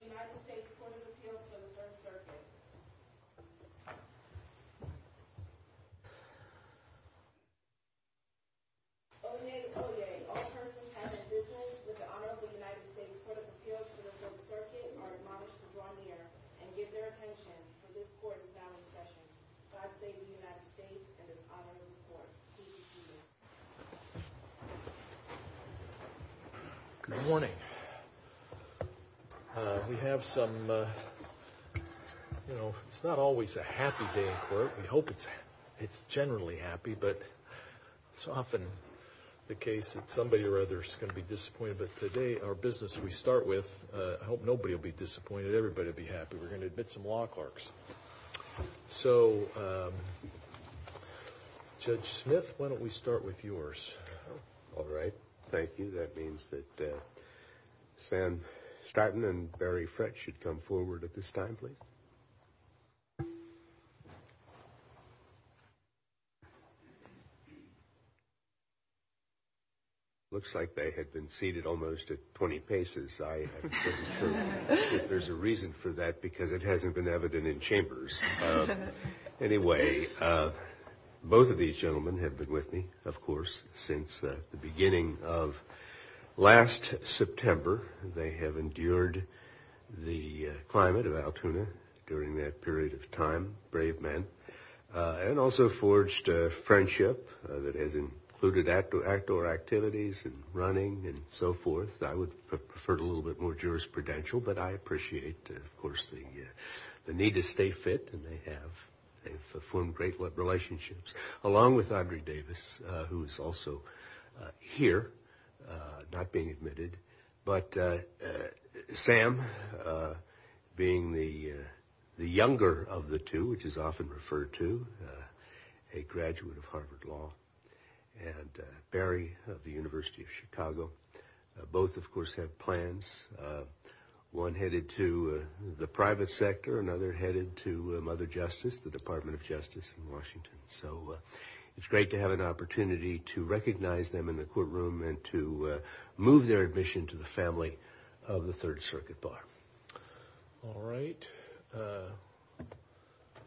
United States Court of Appeals for the Third Circuit Oyez! Oyez! All persons and individuals with the honor of the United States Court of Appeals for the Third Circuit are admonished to draw near and give their attention, for this court is now in session. God save the United States and this honorable court. Good morning. We have some, you know, it's not always a happy day in court. We hope it's generally happy, but it's often the case that somebody or others can be disappointed. But today, our business we start with, I hope nobody will be disappointed. Everybody will be happy. We're going to admit some law clerks. So, Judge Smith, why don't we start with yours? All right. Thank you. That means that Sam Statton and Barry Fretsch should come forward at this time, please. Looks like they had been seated almost at 20 paces. There's a reason for that because it hasn't been evident in chambers. Anyway, both of these gentlemen have been with me, of course, since the beginning of last September. They have endured the climate of Altoona during that period of time, brave men, and also forged a friendship that has included outdoor activities and running and so forth. I would have preferred a little bit more jurisprudential, but I appreciate, of course, the need to stay fit, and they have. They've formed great relationships, along with Andre Davis, who is also here, not being admitted. But Sam, being the younger of the two, which is often referred to, a graduate of Harvard Law, and Barry of the University of Chicago, both, of course, have plans, one headed to the private sector, another headed to Mother Justice, the Department of Justice in Washington. So, it's great to have an opportunity to recognize them in the courtroom and to move their admission to the family of the Third Circuit Bar. All right.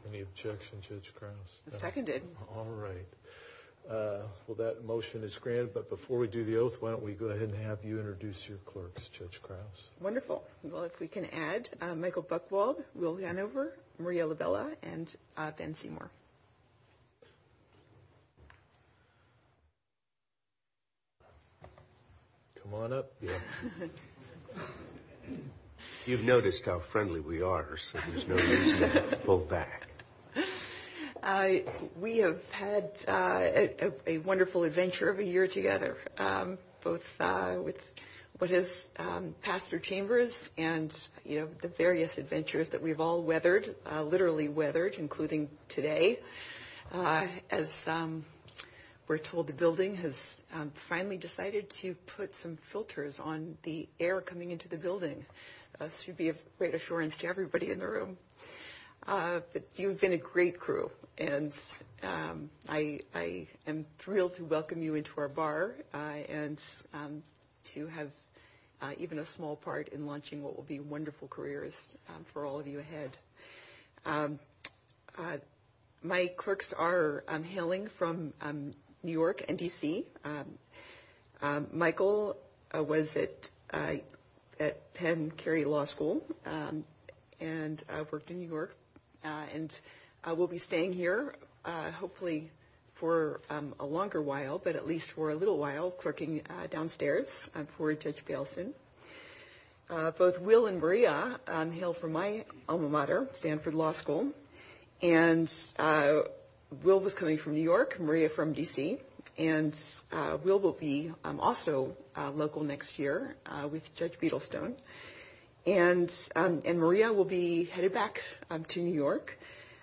Any objections, Judge Krause? Seconded. All right. Well, that motion is granted, but before we do the oath, why don't we go ahead and have you introduce your clerks, Judge Krause? Wonderful. Well, if we can add Michael Buchwald, Will Hanover, Maria Labella, and Ben Seymour. Come on up, Bill. You've noticed how friendly we are, so there's no need to pull back. We have had a wonderful adventure of a year together, both with what has passed through chambers and, you know, the various adventures that we've all weathered, literally weathered, including today. As we're told, the building has finally decided to put some filters on the air coming into the building. This should be a great assurance to everybody in the room. But you've been a great crew, and I am thrilled to welcome you into our bar and to have even a small part in launching what will be wonderful careers for all of you ahead. My clerks are hailing from New York and D.C. Michael was at Penn Cary Law School and worked in New York, and will be staying here hopefully for a longer while, but at least for a little while, clerking downstairs for Judge Bailson. Both Will and Maria hail from my alma mater, Stanford Law School, and Will was coming from New York, Maria from D.C., and Will will be also local next year with Judge Beadlestone. And Maria will be headed back to New York,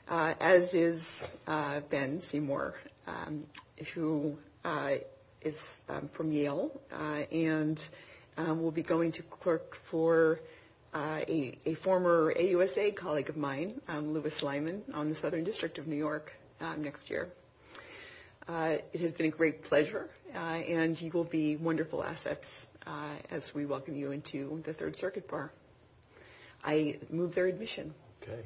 as is Ben Seymour, who is from Yale, and will be going to clerk for a former AUSA colleague of mine, Louis Lyman, on the Southern District of New York next year. It has been a great pleasure, and you will be wonderful assets as we welcome you into the Third Circuit Bar. I move their admission. Okay,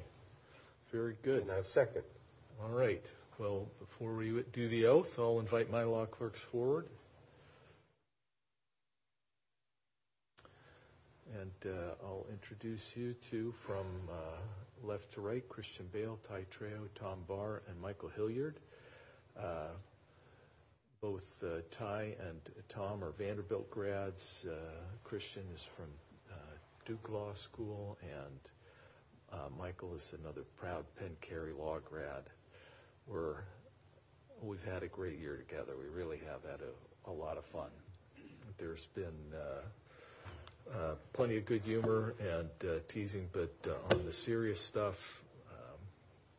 very good. I second. All right. Well, before we do the oath, I'll invite my law clerks forward. And I'll introduce you to, from left to right, Christian Bale, Ty Trao, Tom Barr, and Michael Hilliard. Both Ty and Tom are Vanderbilt grads. Christian is from Duke Law School, and Michael is another proud Penn Cary Law grad. We've had a great year together. We really have had a lot of fun. There's been plenty of good humor and teasing, but on the serious stuff,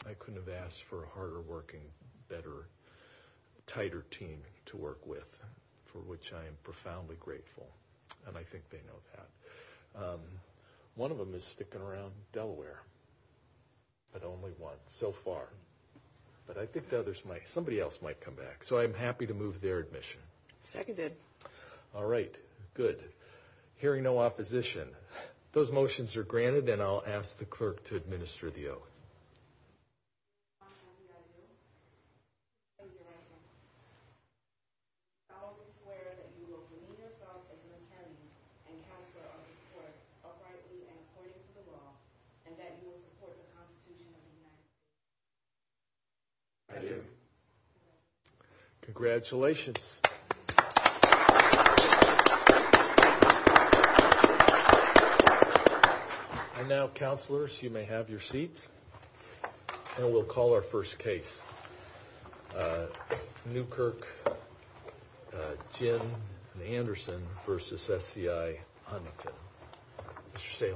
I couldn't have asked for a harder-working, better, tighter team to work with, for which I am profoundly grateful. And I think they know that. One of them is sticking around Delaware, but only one so far. But I think somebody else might come back, so I'm happy to move their admission. Seconded. All right, good. Hearing no opposition, those motions are granted, and I'll ask the clerk to administer the oath. I swear that you will demean yourself as an attorney and counselor of this court, uprightly and according to the law, and that you will support the Constitution of the United States. I do. Congratulations. And now, counselors, you may have your seats, and we'll call our first case. Newkirk, Jim Anderson v. SCI Huntington. Mr. Saylor.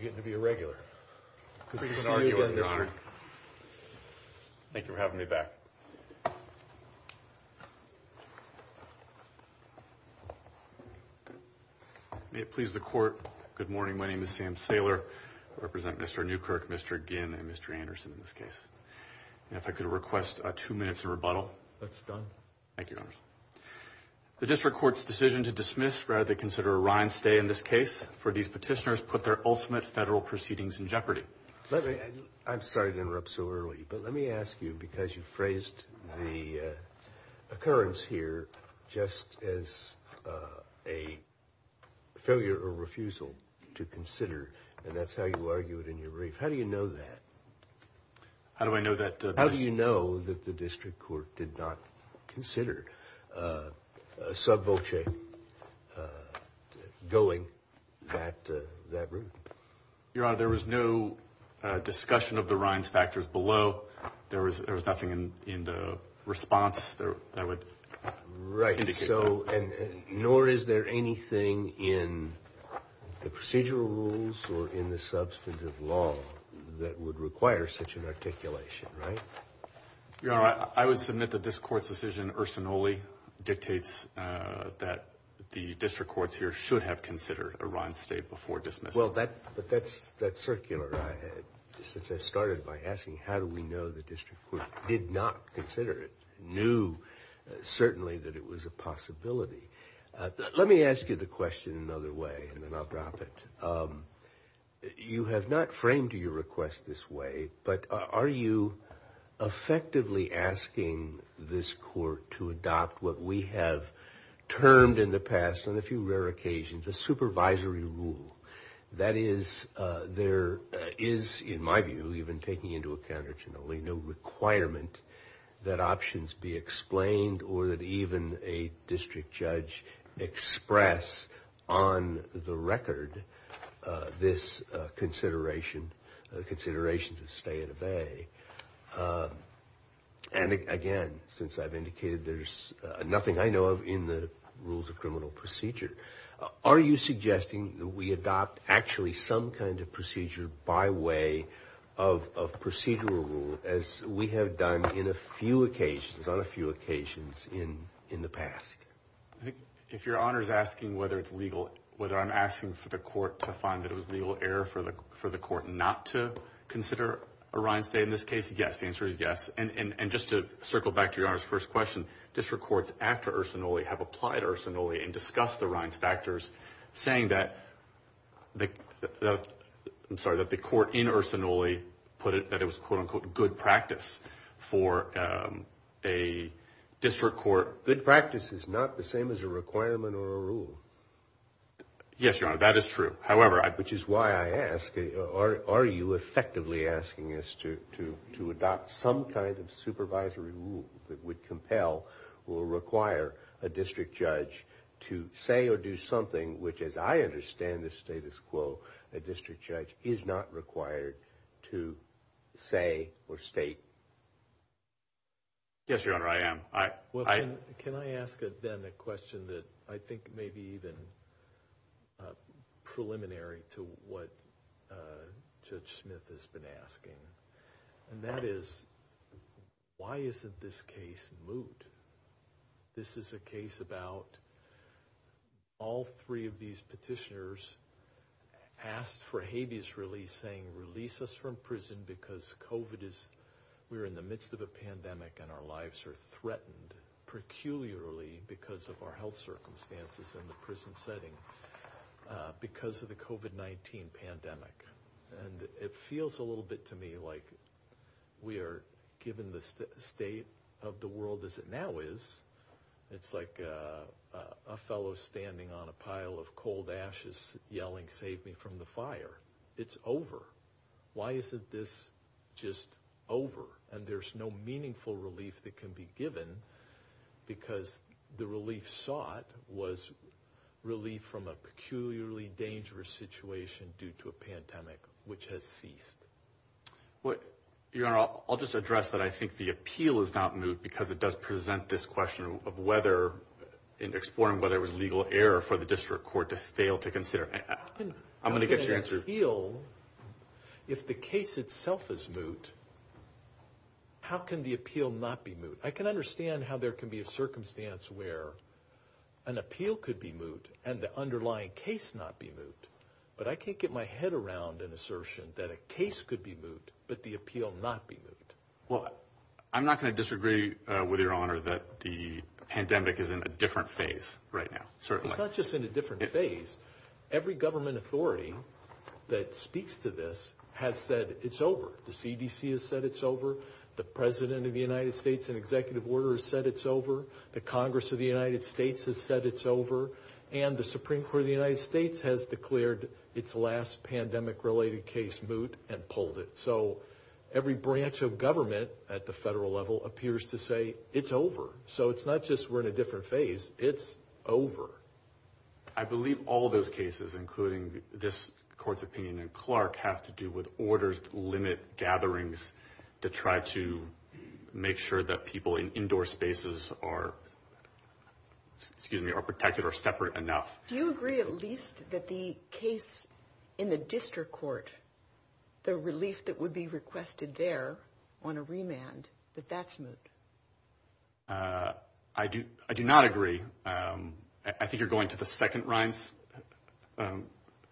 You're getting to be a regular. Good to see you again, Your Honor. Thank you for having me back. May it please the Court, good morning. My name is Sam Saylor. I represent Mr. Newkirk, Mr. Ginn, and Mr. Anderson in this case. And if I could request two minutes of rebuttal. That's done. Thank you, Your Honor. The district court's decision to dismiss rather than consider a rind stay in this case for these petitioners put their ultimate federal proceedings in jeopardy. I'm sorry to interrupt so early, but let me ask you, because you phrased the occurrence here just as a failure or refusal to consider, and that's how you argue it in your brief. How do you know that? How do I know that? How do you know that the district court did not consider a sub voce going that route? Your Honor, there was no discussion of the rinds factors below. There was nothing in the response that would indicate that. Right. Nor is there anything in the procedural rules or in the substantive law that would require such an articulation, right? Your Honor, I would submit that this Court's decision ursinoli dictates that the district courts here should have considered a rind stay before dismissal. Well, but that's circular. Since I started by asking how do we know the district court did not consider it, knew certainly that it was a possibility. Let me ask you the question another way, and then I'll drop it. You have not framed your request this way, but are you effectively asking this Court to adopt what we have termed in the past, on a few rare occasions, a supervisory rule? That is, there is, in my view, even taking into account ursinoli, no requirement that options be explained or that even a district judge express on the record this consideration, considerations of stay at a bay. And again, since I've indicated there's nothing I know of in the rules of criminal procedure, are you suggesting that we adopt actually some kind of procedure by way of procedural rule as we have done in a few occasions, on a few occasions in the past? If Your Honor is asking whether it's legal, whether I'm asking for the Court to find that it was legal error for the Court not to consider a rind stay, in this case, yes. The answer is yes. And just to circle back to Your Honor's first question, district courts after ursinoli have applied ursinoli and discussed the rinds factors, saying that the Court in ursinoli put it, that it was, quote unquote, good practice for a district court. Good practice is not the same as a requirement or a rule. Yes, Your Honor, that is true. Which is why I ask, are you effectively asking us to adopt some kind of supervisory rule that would compel or require a district judge to say or do something which, as I understand the status quo, a district judge is not required to say or state? Yes, Your Honor, I am. Can I ask, then, a question that I think may be even preliminary to what Judge Smith has been asking? And that is, why isn't this case moot? This is a case about all three of these petitioners asked for habeas release, saying, release us from prison because COVID is, we're in the midst of a pandemic and our lives are threatened, peculiarly because of our health circumstances in the prison setting, because of the COVID-19 pandemic. And it feels a little bit to me like we are, given the state of the world as it now is, it's like a fellow standing on a pile of cold ashes yelling, save me from the fire. It's over. Why isn't this just over? And there's no meaningful relief that can be given because the relief sought was relief from a peculiarly dangerous situation due to a pandemic, which has ceased. Your Honor, I'll just address that I think the appeal is not moot because it does present this question of whether, in exploring whether it was legal error for the district court to fail to consider. I'm going to get your answer. If the case itself is moot, how can the appeal not be moot? I can understand how there can be a circumstance where an appeal could be moot and the underlying case not be moot, but I can't get my head around an assertion that a case could be moot, but the appeal not be moot. What? I'm not going to disagree with Your Honor that the pandemic is in a different phase right now. It's not just in a different phase. Every government authority that speaks to this has said it's over. The CDC has said it's over. The President of the United States and executive order has said it's over. The Congress of the United States has said it's over. And the Supreme Court of the United States has declared its last pandemic-related case moot and pulled it. So every branch of government at the federal level appears to say it's over. So it's not just we're in a different phase. It's over. I believe all those cases, including this court's opinion in Clark, have to do with orders to limit gatherings to try to make sure that people in indoor spaces are protected or separate enough. Do you agree at least that the case in the district court, the relief that would be requested there on a remand, that that's moot? I do not agree. I think you're going to the second Rhine's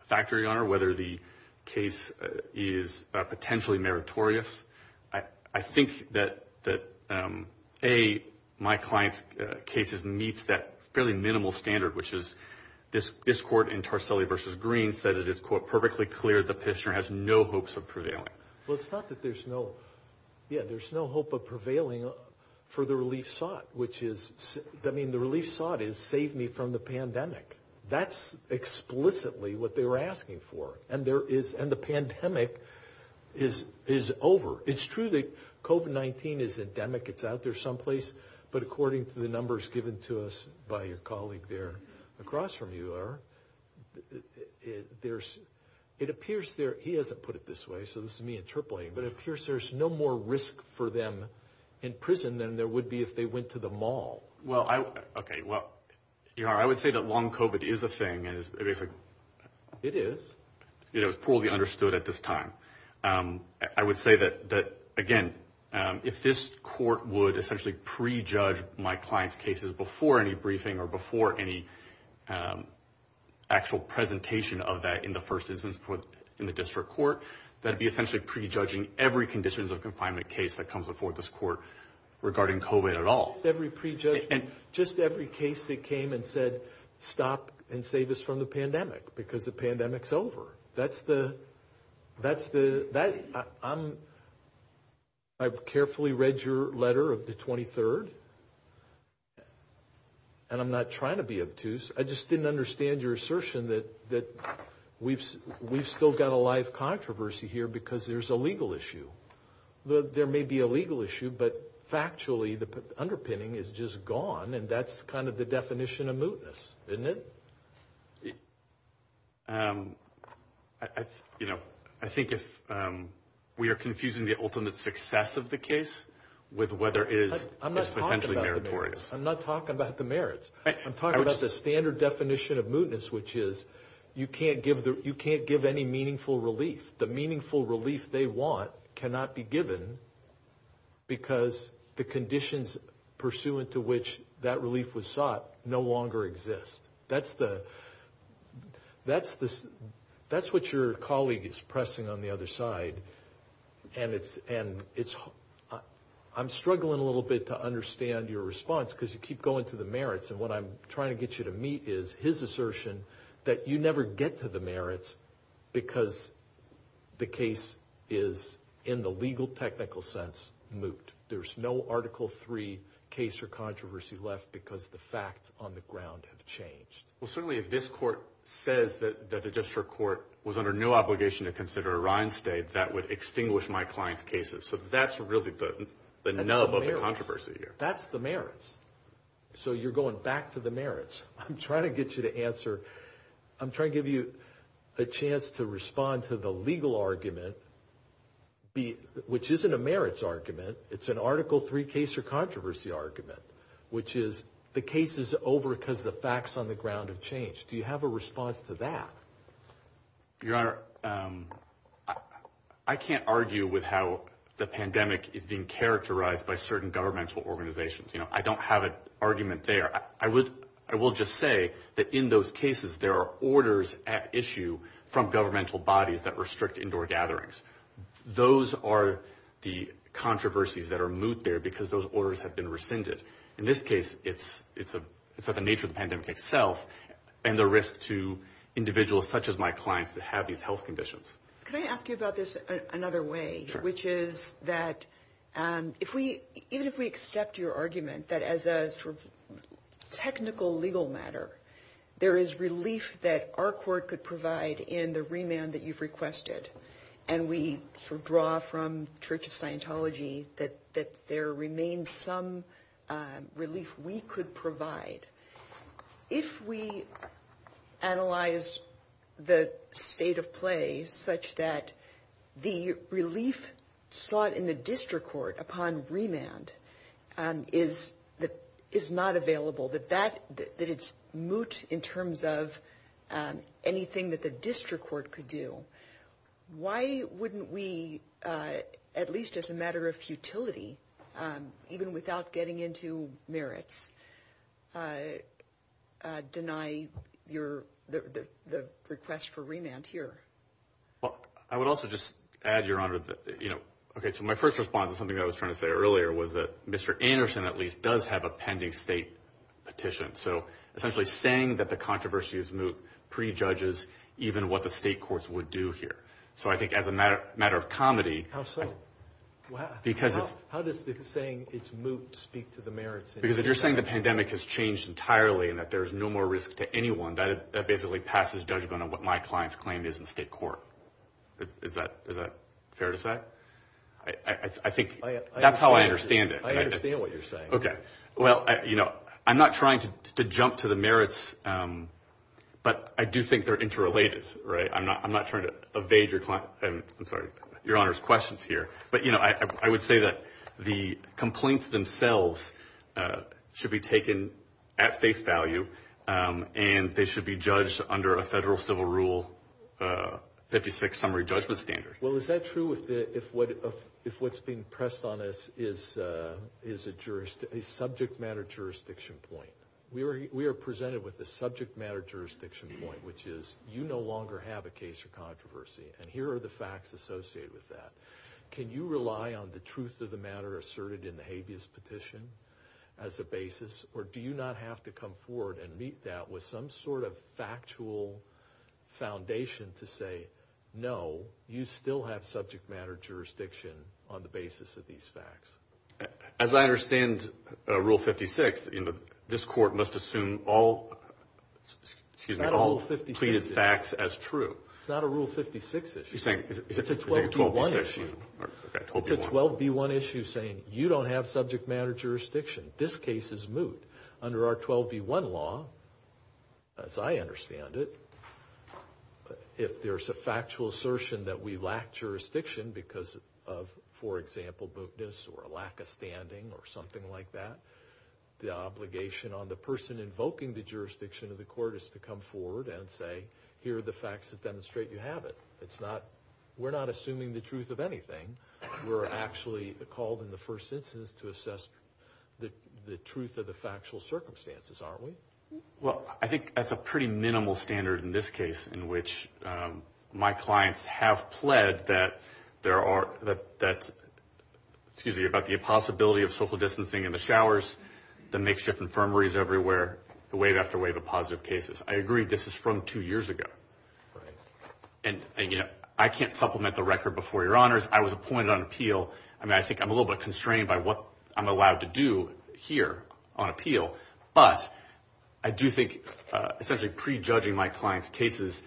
factory, Your Honor, whether the case is potentially meritorious. I think that, A, my client's case meets that fairly minimal standard, which is this court in Tarselli v. Green said it is, quote, perfectly clear the petitioner has no hopes of prevailing. Well, it's not that there's no yeah, there's no hope of prevailing for the relief sought, which is I mean, the relief sought is save me from the pandemic. That's explicitly what they were asking for. And there is and the pandemic is is over. It's true that COVID-19 is endemic. It's out there someplace. But according to the numbers given to us by your colleague there across from you are there's it appears there. He hasn't put it this way. So this is me interpolating, but it appears there's no more risk for them in prison than there would be if they went to the mall. Well, I OK. Well, you know, I would say that long COVID is a thing. It is poorly understood at this time. I would say that that, again, if this court would essentially prejudge my client's cases before any briefing or before any actual presentation of that in the first instance in the district court, that would be essentially prejudging every conditions of confinement case that comes before this court regarding COVID at all. And just every case that came and said, stop and save us from the pandemic because the pandemic's over. That's the that's the that I'm. I've carefully read your letter of the 23rd. And I'm not trying to be obtuse. I just didn't understand your assertion that that we've we've still got a live controversy here because there's a legal issue. There may be a legal issue, but factually, the underpinning is just gone. And that's kind of the definition of mootness, isn't it? You know, I think if we are confusing the ultimate success of the case with whether is I'm not talking about the merits, I'm talking about the standard definition of mootness, which is you can't give you can't give any meaningful relief. The meaningful relief they want cannot be given because the conditions pursuant to which that relief was sought no longer exist. That's the that's the that's what your colleague is pressing on the other side. And it's and it's I'm struggling a little bit to understand your response because you keep going to the merits. And what I'm trying to get you to meet is his assertion that you never get to the merits because the case is in the legal technical sense moot. There's no Article three case or controversy left because the facts on the ground have changed. Well, certainly, if this court says that the district court was under no obligation to consider a reinstate, that would extinguish my client's cases. So that's really the nub of the controversy here. That's the merits. So you're going back to the merits. I'm trying to get you to answer. I'm trying to give you a chance to respond to the legal argument. The which isn't a merits argument. It's an Article three case or controversy argument, which is the case is over because the facts on the ground have changed. Do you have a response to that? Your Honor, I can't argue with how the pandemic is being characterized by certain governmental organizations. You know, I don't have an argument there. I would I will just say that in those cases, there are orders at issue from governmental bodies that restrict indoor gatherings. Those are the controversies that are moot there because those orders have been rescinded. In this case, it's it's it's not the nature of the pandemic itself and the risk to individuals such as my clients that have these health conditions. Can I ask you about this another way? Which is that if we even if we accept your argument that as a sort of technical legal matter, there is relief that our court could provide in the remand that you've requested. And we sort of draw from Church of Scientology that that there remains some relief we could provide. If we analyze the state of play such that the relief sought in the district court upon remand is that is not available, that that that it's moot in terms of anything that the district court could do. Why wouldn't we, at least as a matter of futility, even without getting into merits, deny your the request for remand here? Well, I would also just add, Your Honor, you know. OK, so my first response is something I was trying to say earlier was that Mr. Anderson at least does have a pending state petition. So essentially saying that the controversy is moot prejudges even what the state courts would do here. So I think as a matter of comedy. How so? Because how does saying it's moot speak to the merits? Because if you're saying the pandemic has changed entirely and that there is no more risk to anyone, that basically passes judgment on what my client's claim is in state court. Is that is that fair to say? I think that's how I understand it. I understand what you're saying. OK. Well, you know, I'm not trying to jump to the merits, but I do think they're interrelated. Right. I'm not I'm not trying to evade your client. I'm sorry. Your Honor's questions here. But, you know, I would say that the complaints themselves should be taken at face value and they should be judged under a federal civil rule. Fifty six summary judgment standard. Well, is that true? If what if what's being pressed on us is is a jurist, a subject matter jurisdiction point, we are we are presented with a subject matter jurisdiction point, which is you no longer have a case of controversy. And here are the facts associated with that. Can you rely on the truth of the matter asserted in the habeas petition as a basis? Or do you not have to come forward and meet that with some sort of factual foundation to say, no, you still have subject matter jurisdiction on the basis of these facts? As I understand rule 56, this court must assume all excuse me, all 50 pleaded facts as true. It's not a rule 56 issue. It's a 12 to one issue. It's a 12B1 issue saying you don't have subject matter jurisdiction. This case is moot under our 12B1 law. As I understand it, if there's a factual assertion that we lack jurisdiction because of, for example, mootness or a lack of standing or something like that, the obligation on the person invoking the jurisdiction of the court is to come forward and say, here are the facts that demonstrate you have it. It's not, we're not assuming the truth of anything. We're actually called in the first instance to assess the truth of the factual circumstances, aren't we? Well, I think that's a pretty minimal standard in this case in which my clients have pled that there are, that's, excuse me, about the impossibility of social distancing in the showers, the makeshift infirmaries everywhere, the wave after wave of positive cases. I agree this is from two years ago. And, you know, I can't supplement the record before your honors. I was appointed on appeal. I mean, I think I'm a little bit constrained by what I'm allowed to do here on appeal. But I do think essentially prejudging my clients' cases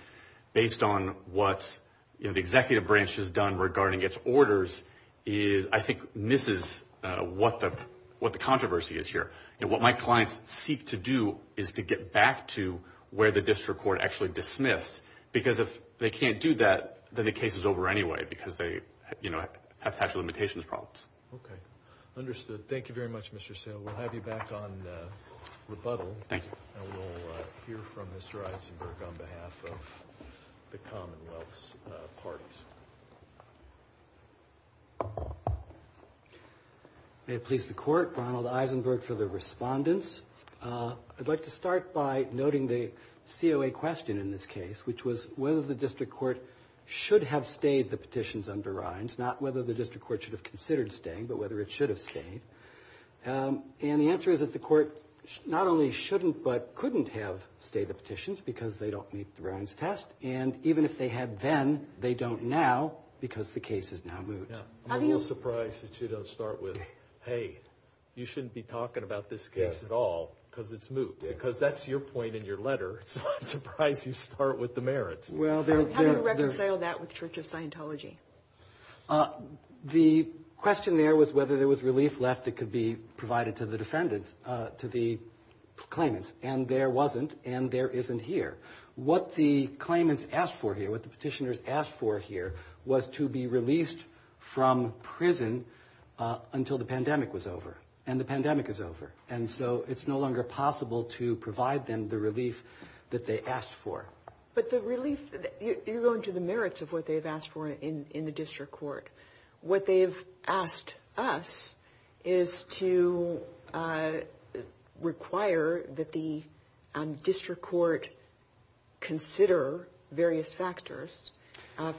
based on what the executive branch has done regarding its orders, I think misses what the controversy is here. And what my clients seek to do is to get back to where the district court actually dismissed, because if they can't do that, then the case is over anyway because they, you know, have statute of limitations problems. Okay. Understood. Thank you very much, Mr. Sale. We'll have you back on rebuttal. Thank you. And we'll hear from Mr. Eisenberg on behalf of the Commonwealth's parties. May it please the court. Ronald Eisenberg for the respondents. I'd like to start by noting the COA question in this case, which was whether the district court should have stayed the petitions under Ryan's, not whether the district court should have considered staying, but whether it should have stayed. And the answer is that the court not only shouldn't but couldn't have stayed the petitions because they don't meet the Ryan's test. And even if they had then, they don't now because the case is now moot. I'm a little surprised that you don't start with, hey, you shouldn't be talking about this case at all because it's moot. Because that's your point in your letter, so I'm surprised you start with the merits. How do you reconcile that with Church of Scientology? The question there was whether there was relief left that could be provided to the defendants, to the claimants. And there wasn't, and there isn't here. What the claimants asked for here, what the petitioners asked for here was to be released from prison until the pandemic was over. And the pandemic is over. And so it's no longer possible to provide them the relief that they asked for. But the relief, you're going to the merits of what they've asked for in the district court. What they've asked us is to require that the district court consider various factors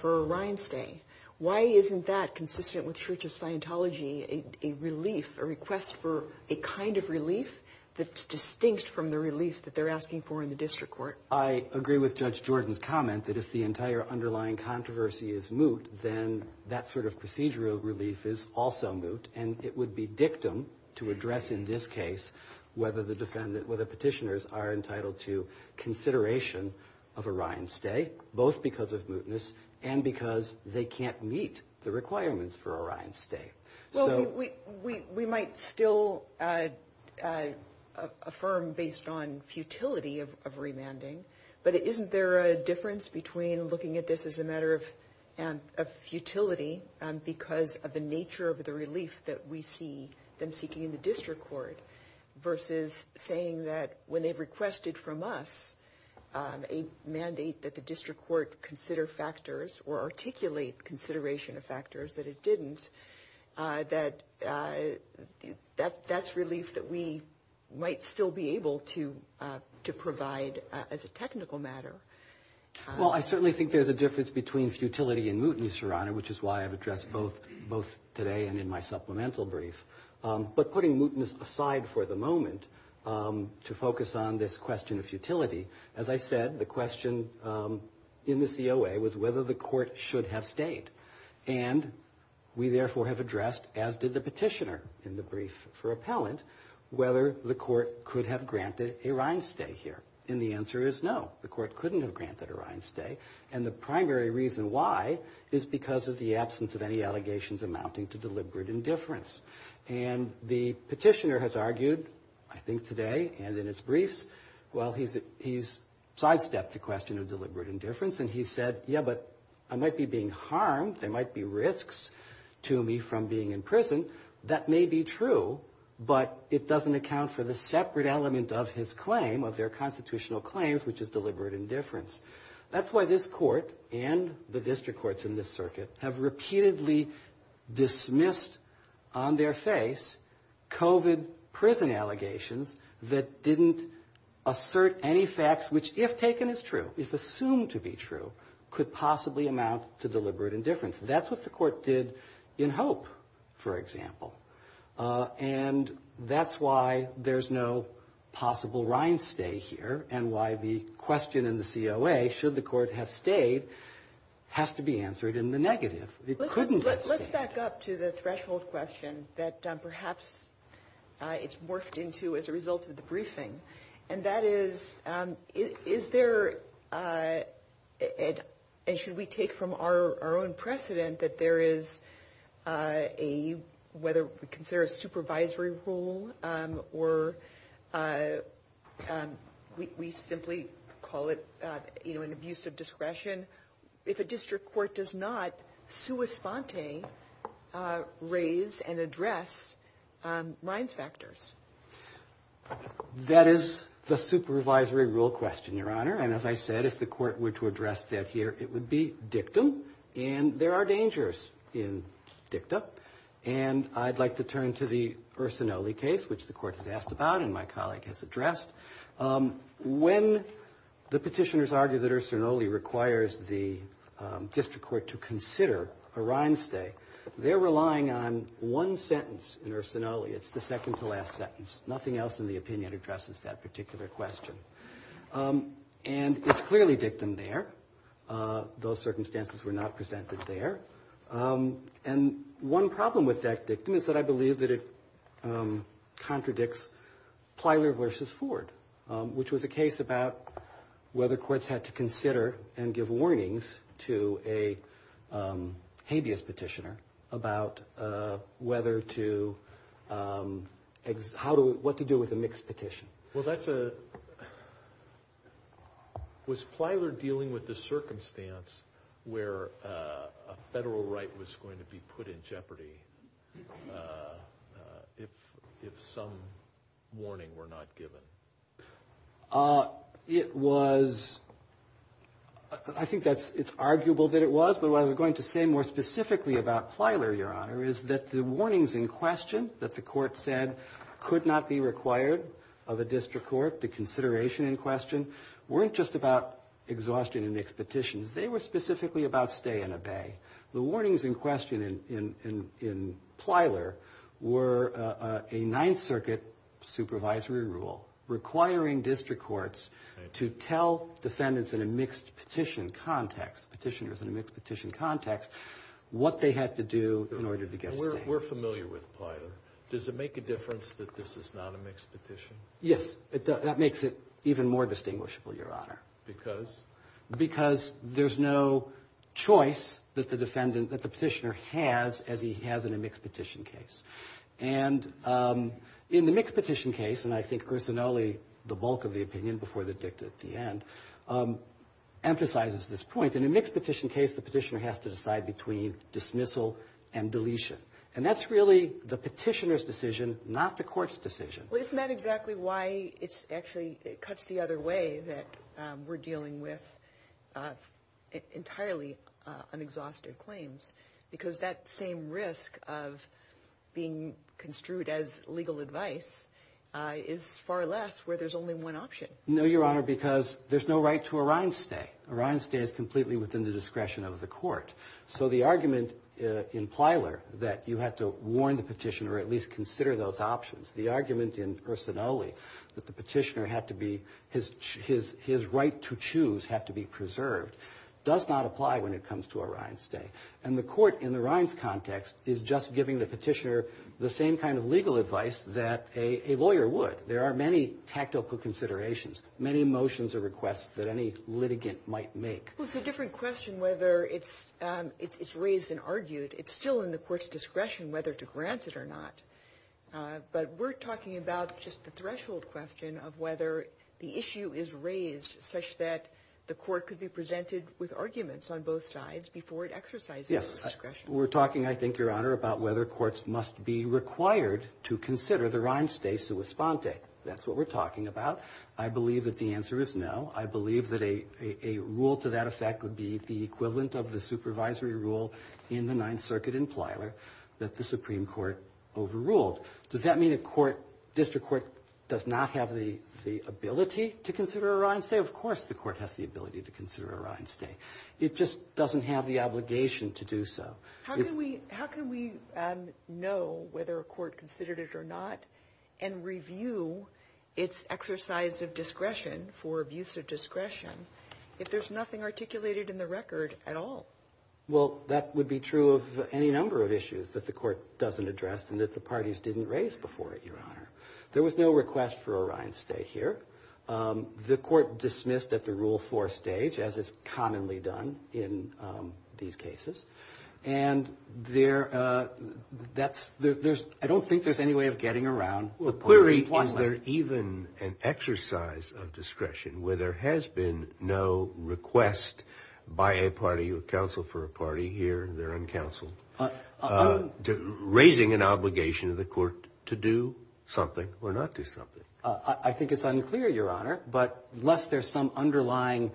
for Ryan's stay. Why isn't that consistent with Church of Scientology, a relief, a request for a kind of relief that's distinct from the relief that they're asking for in the district court? Well, I agree with Judge Jordan's comment that if the entire underlying controversy is moot, then that sort of procedural relief is also moot. And it would be dictum to address in this case whether the petitioners are entitled to consideration of Orion's stay, both because of mootness and because they can't meet the requirements for Orion's stay. Well, we might still affirm based on futility of remanding. But isn't there a difference between looking at this as a matter of futility because of the nature of the relief that we see them seeking in the district court versus saying that when they've requested from us a mandate that the district court consider factors or articulate consideration of factors that it didn't. That's relief that we might still be able to provide as a technical matter. Well, I certainly think there's a difference between futility and mootness, Your Honor, which is why I've addressed both today and in my supplemental brief. But putting mootness aside for the moment to focus on this question of futility, as I said, the question in the COA was whether the court should have stayed. And we therefore have addressed, as did the petitioner in the brief for appellant, whether the court could have granted Orion's stay here. And the answer is no. The court couldn't have granted Orion's stay. And the primary reason why is because of the absence of any allegations amounting to deliberate indifference. And the petitioner has argued, I think today and in his briefs, well, he's sidestepped the question of deliberate indifference. And he said, yeah, but I might be being harmed. There might be risks to me from being in prison. That may be true, but it doesn't account for the separate element of his claim, of their constitutional claims, which is deliberate indifference. That's why this court and the district courts in this circuit have repeatedly dismissed on their face COVID prison allegations that didn't assert any facts, which, if taken as true, if assumed to be true, could possibly amount to deliberate indifference. That's what the court did in Hope, for example. And that's why there's no possible Orion's stay here and why the question in the COA, should the court have stayed, has to be answered in the negative. It couldn't have stayed. Let's back up to the threshold question that perhaps it's morphed into as a result of the briefing. And that is, is there, and should we take from our own precedent that there is a, whether we consider a supervisory role or we simply call it, you know, an abuse of discretion. If a district court does not sua sponte raise and address Ryan's factors. That is the supervisory rule question, Your Honor. And as I said, if the court were to address that here, it would be dictum. And there are dangers in dictum. And I'd like to turn to the Ursinoli case, which the court has asked about and my colleague has addressed. When the petitioners argue that Ursinoli requires the district court to consider Orion's stay, they're relying on one sentence in Ursinoli. It's the second to last sentence. Nothing else in the opinion addresses that particular question. And it's clearly dictum there. Those circumstances were not presented there. And one problem with that dictum is that I believe that it contradicts Plyler v. Ford, which was a case about whether courts had to consider and give warnings to a habeas petitioner about whether to, how to, what to do with a mixed petition. Well, that's a, was Plyler dealing with the circumstance where a federal right was going to be put in jeopardy if some warning were not given? It was, I think that's, it's arguable that it was. What we're going to say more specifically about Plyler, Your Honor, is that the warnings in question that the court said could not be required of a district court, the consideration in question, weren't just about exhaustion and mixed petitions. They were specifically about stay and obey. The warnings in question in Plyler were a Ninth Circuit supervisory rule requiring district courts to tell defendants in a mixed petition context, petitioners in a mixed petition context, what they had to do in order to get stay. We're familiar with Plyler. Does it make a difference that this is not a mixed petition? Yes, it does. That makes it even more distinguishable, Your Honor. Because? Because there's no choice that the defendant, that the petitioner has as he has in a mixed petition case. And in the mixed petition case, and I think Ursinoli, the bulk of the opinion before the dicta at the end, emphasizes this point. In a mixed petition case, the petitioner has to decide between dismissal and deletion. And that's really the petitioner's decision, not the court's decision. Well, isn't that exactly why it actually cuts the other way that we're dealing with entirely unexhausted claims? Because that same risk of being construed as legal advice is far less where there's only one option. No, Your Honor, because there's no right to a rind stay. A rind stay is completely within the discretion of the court. So the argument in Plyler that you have to warn the petitioner or at least consider those options, the argument in Ursinoli that the petitioner had to be, his right to choose had to be preserved, does not apply when it comes to a rind stay. And the court in the rinds context is just giving the petitioner the same kind of legal advice that a lawyer would. There are many tactical considerations, many motions or requests that any litigant might make. Well, it's a different question whether it's raised and argued. It's still in the court's discretion whether to grant it or not. But we're talking about just the threshold question of whether the issue is raised such that the court could be presented with arguments on both sides before it exercises its discretion. Yes, we're talking, I think, Your Honor, about whether courts must be required to consider the rind stay sua sponte. That's what we're talking about. I believe that the answer is no. I believe that a rule to that effect would be the equivalent of the supervisory rule in the Ninth Circuit in Plyler that the Supreme Court overruled. Does that mean a court, district court, does not have the ability to consider a rind stay? Of course the court has the ability to consider a rind stay. It just doesn't have the obligation to do so. How can we know whether a court considered it or not and review its exercise of discretion for abuse of discretion if there's nothing articulated in the record at all? Well, that would be true of any number of issues that the court doesn't address and that the parties didn't raise before it, Your Honor. There was no request for a rind stay here. The court dismissed at the Rule 4 stage, as is commonly done in these cases, and there's – I don't think there's any way of getting around the point. Was there even an exercise of discretion where there has been no request by a party or counsel for a party here? They're uncounseled. Raising an obligation of the court to do something or not do something. I think it's unclear, Your Honor, but lest there's some underlying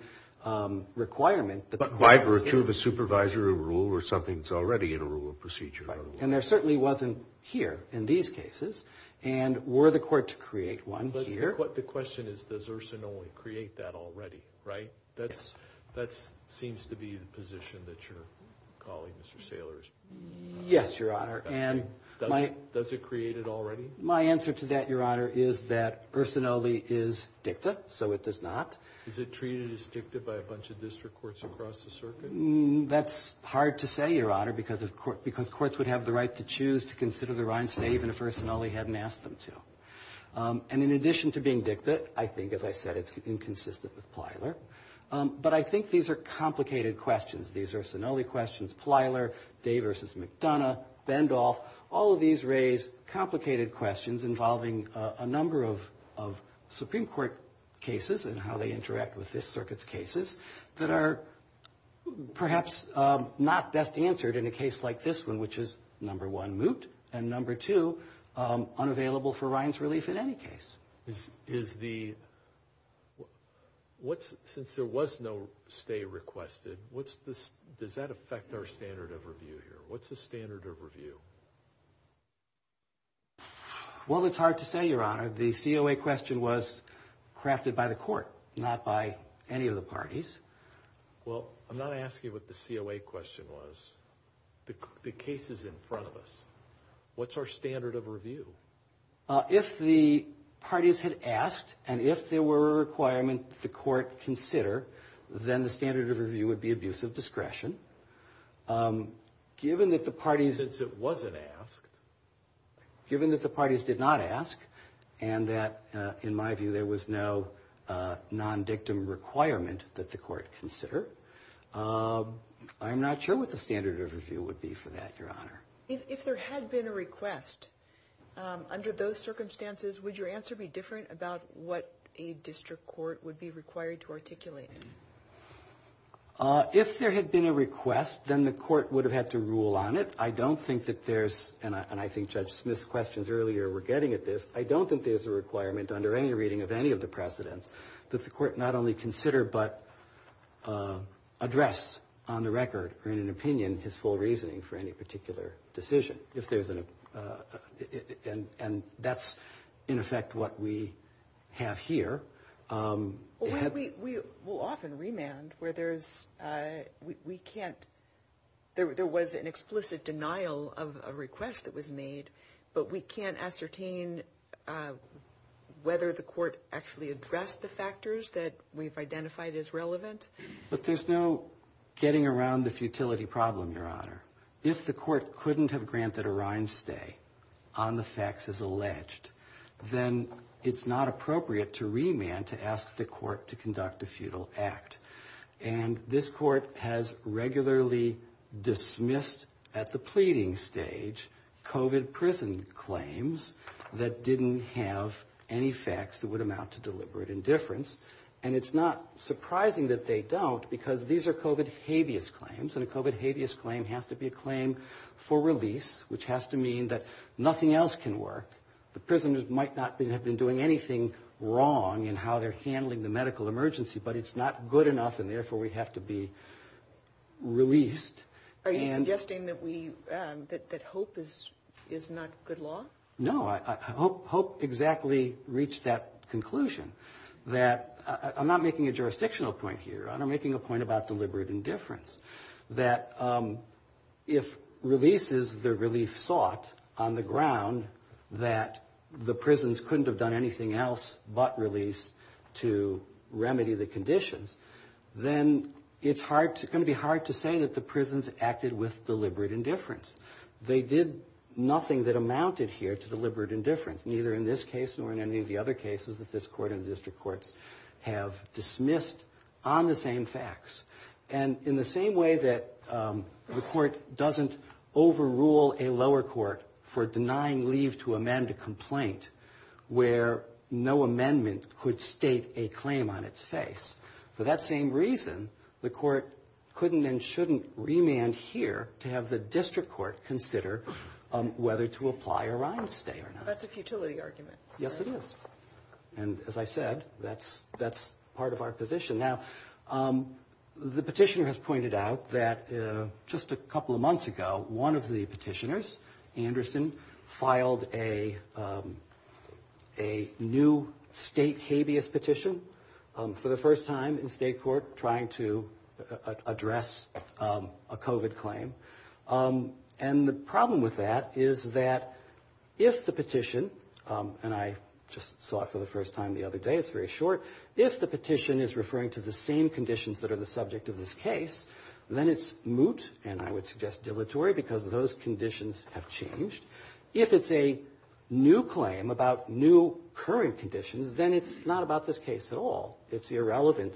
requirement. But why? Were two of the supervisors a rule or something that's already in a rule of procedure? And there certainly wasn't here in these cases. And were the court to create one here. The question is, does Ursinoli create that already, right? That seems to be the position that you're calling, Mr. Saylor. Yes, Your Honor. Does it create it already? My answer to that, Your Honor, is that Ursinoli is dicta, so it does not. Is it treated as dicta by a bunch of district courts across the circuit? That's hard to say, Your Honor, because courts would have the right to choose to consider the rind stay even if Ursinoli hadn't asked them to. And in addition to being dicta, I think, as I said, it's inconsistent with Plyler. But I think these are complicated questions. These Ursinoli questions, Plyler, Day v. McDonough, Bendolph, all of these raise complicated questions involving a number of Supreme Court cases and how they interact with this circuit's cases that are perhaps not best answered in a case like this one, which is, number one, moot, and number two, unavailable for rinds relief in any case. Since there was no stay requested, does that affect our standard of review here? What's the standard of review? Well, it's hard to say, Your Honor. The COA question was crafted by the court, not by any of the parties. Well, I'm not asking what the COA question was. The case is in front of us. What's our standard of review? If the parties had asked and if there were a requirement the court consider, then the standard of review would be abuse of discretion. Given that the parties did not ask and that, in my view, there was no non-dictum requirement that the court consider, I'm not sure what the standard of review would be for that, Your Honor. If there had been a request under those circumstances, would your answer be different about what a district court would be required to articulate? If there had been a request, then the court would have had to rule on it. I don't think that there's, and I think Judge Smith's questions earlier were getting at this, I don't think there's a requirement under any reading of any of the precedents that the court not only consider but address on the record or in an opinion his full reasoning for any particular decision. And that's, in effect, what we have here. We will often remand where there's, we can't, there was an explicit denial of a request that was made, but we can't ascertain whether the court actually addressed the factors that we've identified as relevant. But there's no getting around the futility problem, Your Honor. If the court couldn't have granted a rind stay on the facts as alleged, then it's not appropriate to remand to ask the court to conduct a futile act. And this court has regularly dismissed at the pleading stage COVID prison claims that didn't have any facts that would amount to deliberate indifference. And it's not surprising that they don't, because these are COVID habeas claims, and a COVID habeas claim has to be a claim for release, which has to mean that nothing else can work. The prisoners might not have been doing anything wrong in how they're handling the medical emergency, but it's not good enough, and therefore we have to be released. Are you suggesting that we, that hope is not good law? No, I hope exactly reached that conclusion, that I'm not making a jurisdictional point here. I'm making a point about deliberate indifference, that if release is the relief sought on the ground, and that the prisons couldn't have done anything else but release to remedy the conditions, then it's going to be hard to say that the prisons acted with deliberate indifference. They did nothing that amounted here to deliberate indifference, neither in this case nor in any of the other cases that this court and district courts have dismissed on the same facts. And in the same way that the court doesn't overrule a lower court for denying leave to amend a complaint, where no amendment could state a claim on its face, for that same reason, the court couldn't and shouldn't remand here to have the district court consider whether to apply a rind stay or not. That's a futility argument. Yes, it is, and as I said, that's part of our position. Now, the petitioner has pointed out that just a couple of months ago, one of the petitioners, Anderson, filed a new state habeas petition for the first time in state court trying to address a COVID claim. And the problem with that is that if the petition, and I just saw it for the first time the other day, it's very short. If the petition is referring to the same conditions that are the subject of this case, then it's moot, and I would suggest dilatory because those conditions have changed. If it's a new claim about new current conditions, then it's not about this case at all. It's irrelevant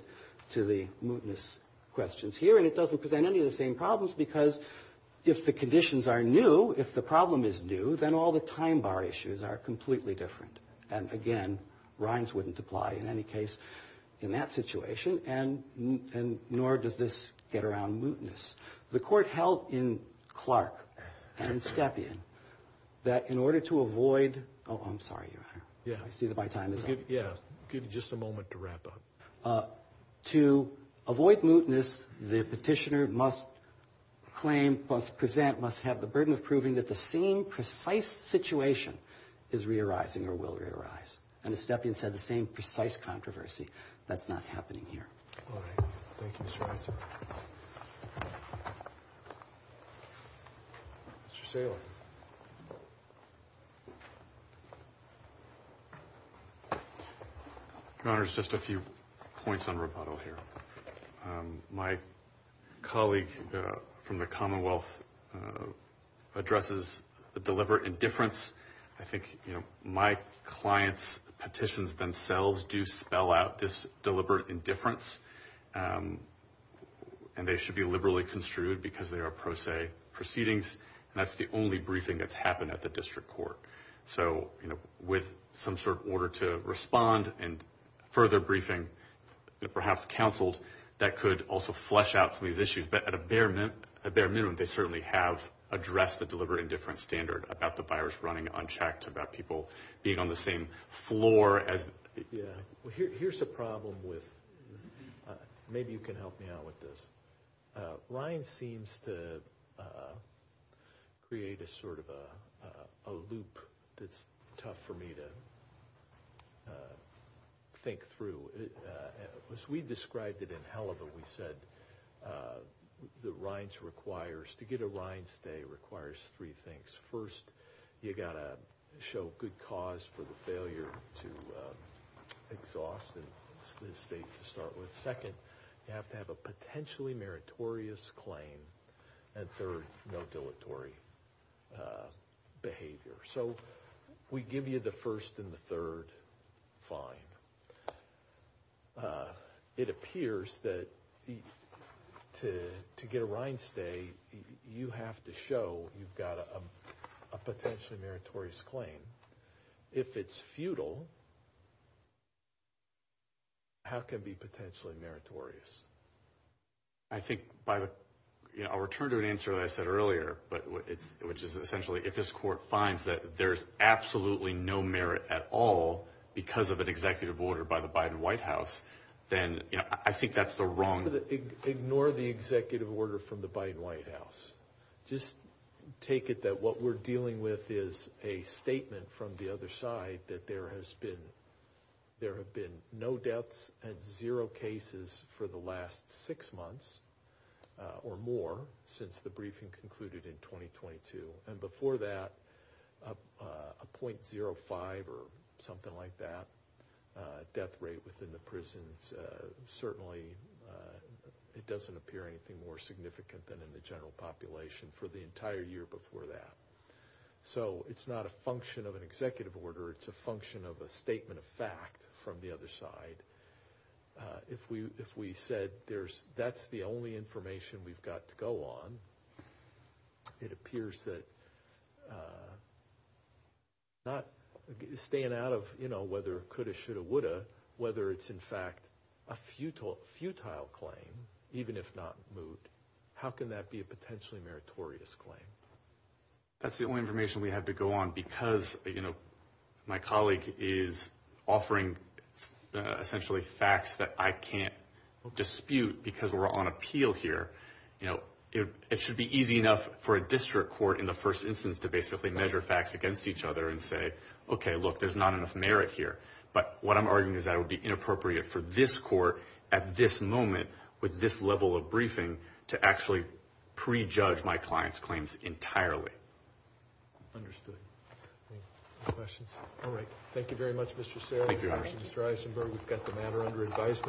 to the mootness questions here, and it doesn't present any of the same problems because if the conditions are new, if the problem is new, then all the time bar issues are completely different. And again, rinds wouldn't apply in any case in that situation, and nor does this get around mootness. The court held in Clark and Stepien that in order to avoid – oh, I'm sorry, Your Honor. Yeah. I see that my time is up. Yeah, give you just a moment to wrap up. To avoid mootness, the petitioner must claim, must present, must have the burden of proving that the same precise situation is re-arising or will re-arise. And as Stepien said, the same precise controversy, that's not happening here. All right. Thank you, Mr. Weiser. Mr. Saylor. Your Honor, just a few points on rebuttal here. My colleague from the Commonwealth addresses the deliberate indifference. I think my clients' petitions themselves do spell out this deliberate indifference, and they should be liberally construed because they are pro se proceedings, and that's the only briefing that's happened at the district court. So with some sort of order to respond and further briefing, perhaps counseled, that could also flesh out some of these issues. But at a bare minimum, they certainly have addressed the deliberate indifference standard about the virus running unchecked, about people being on the same floor as – Yeah. Well, here's the problem with – maybe you can help me out with this. RINES seems to create a sort of a loop that's tough for me to think through. As we described it in Heleva, we said the RINES requires – to get a RINES stay requires three things. First, you've got to show good cause for the failure to exhaust the state to start with. Second, you have to have a potentially meritorious claim. And third, no dilatory behavior. So we give you the first and the third fine. It appears that to get a RINES stay, you have to show you've got a potentially meritorious claim. If it's futile, how can it be potentially meritorious? I think by – I'll return to an answer that I said earlier, which is essentially if this court finds that there's absolutely no merit at all because of an executive order by the Biden White House, then I think that's the wrong – Ignore the executive order from the Biden White House. Just take it that what we're dealing with is a statement from the other side that there has been – there have been no deaths and zero cases for the last six months or more since the briefing concluded in 2022. And before that, a 0.05 or something like that death rate within the prisons. Certainly, it doesn't appear anything more significant than in the general population for the entire year before that. So it's not a function of an executive order. It's a function of a statement of fact from the other side. If we said there's – that's the only information we've got to go on, it appears that not staying out of, you know, whether it could have, should have, would have, whether it's in fact a futile claim, even if not moved, how can that be a potentially meritorious claim? That's the only information we have to go on because, you know, my colleague is offering essentially facts that I can't dispute because we're on appeal here. You know, it should be easy enough for a district court in the first instance to basically measure facts against each other and say, okay, look, there's not enough merit here. But what I'm arguing is that it would be inappropriate for this court at this moment with this level of briefing to actually prejudge my client's claims entirely. Understood. Any questions? All right. Thank you very much, Mr. Sarah. Thank you, Your Honor. Mr. Eisenberg, we've got the matter under advisement.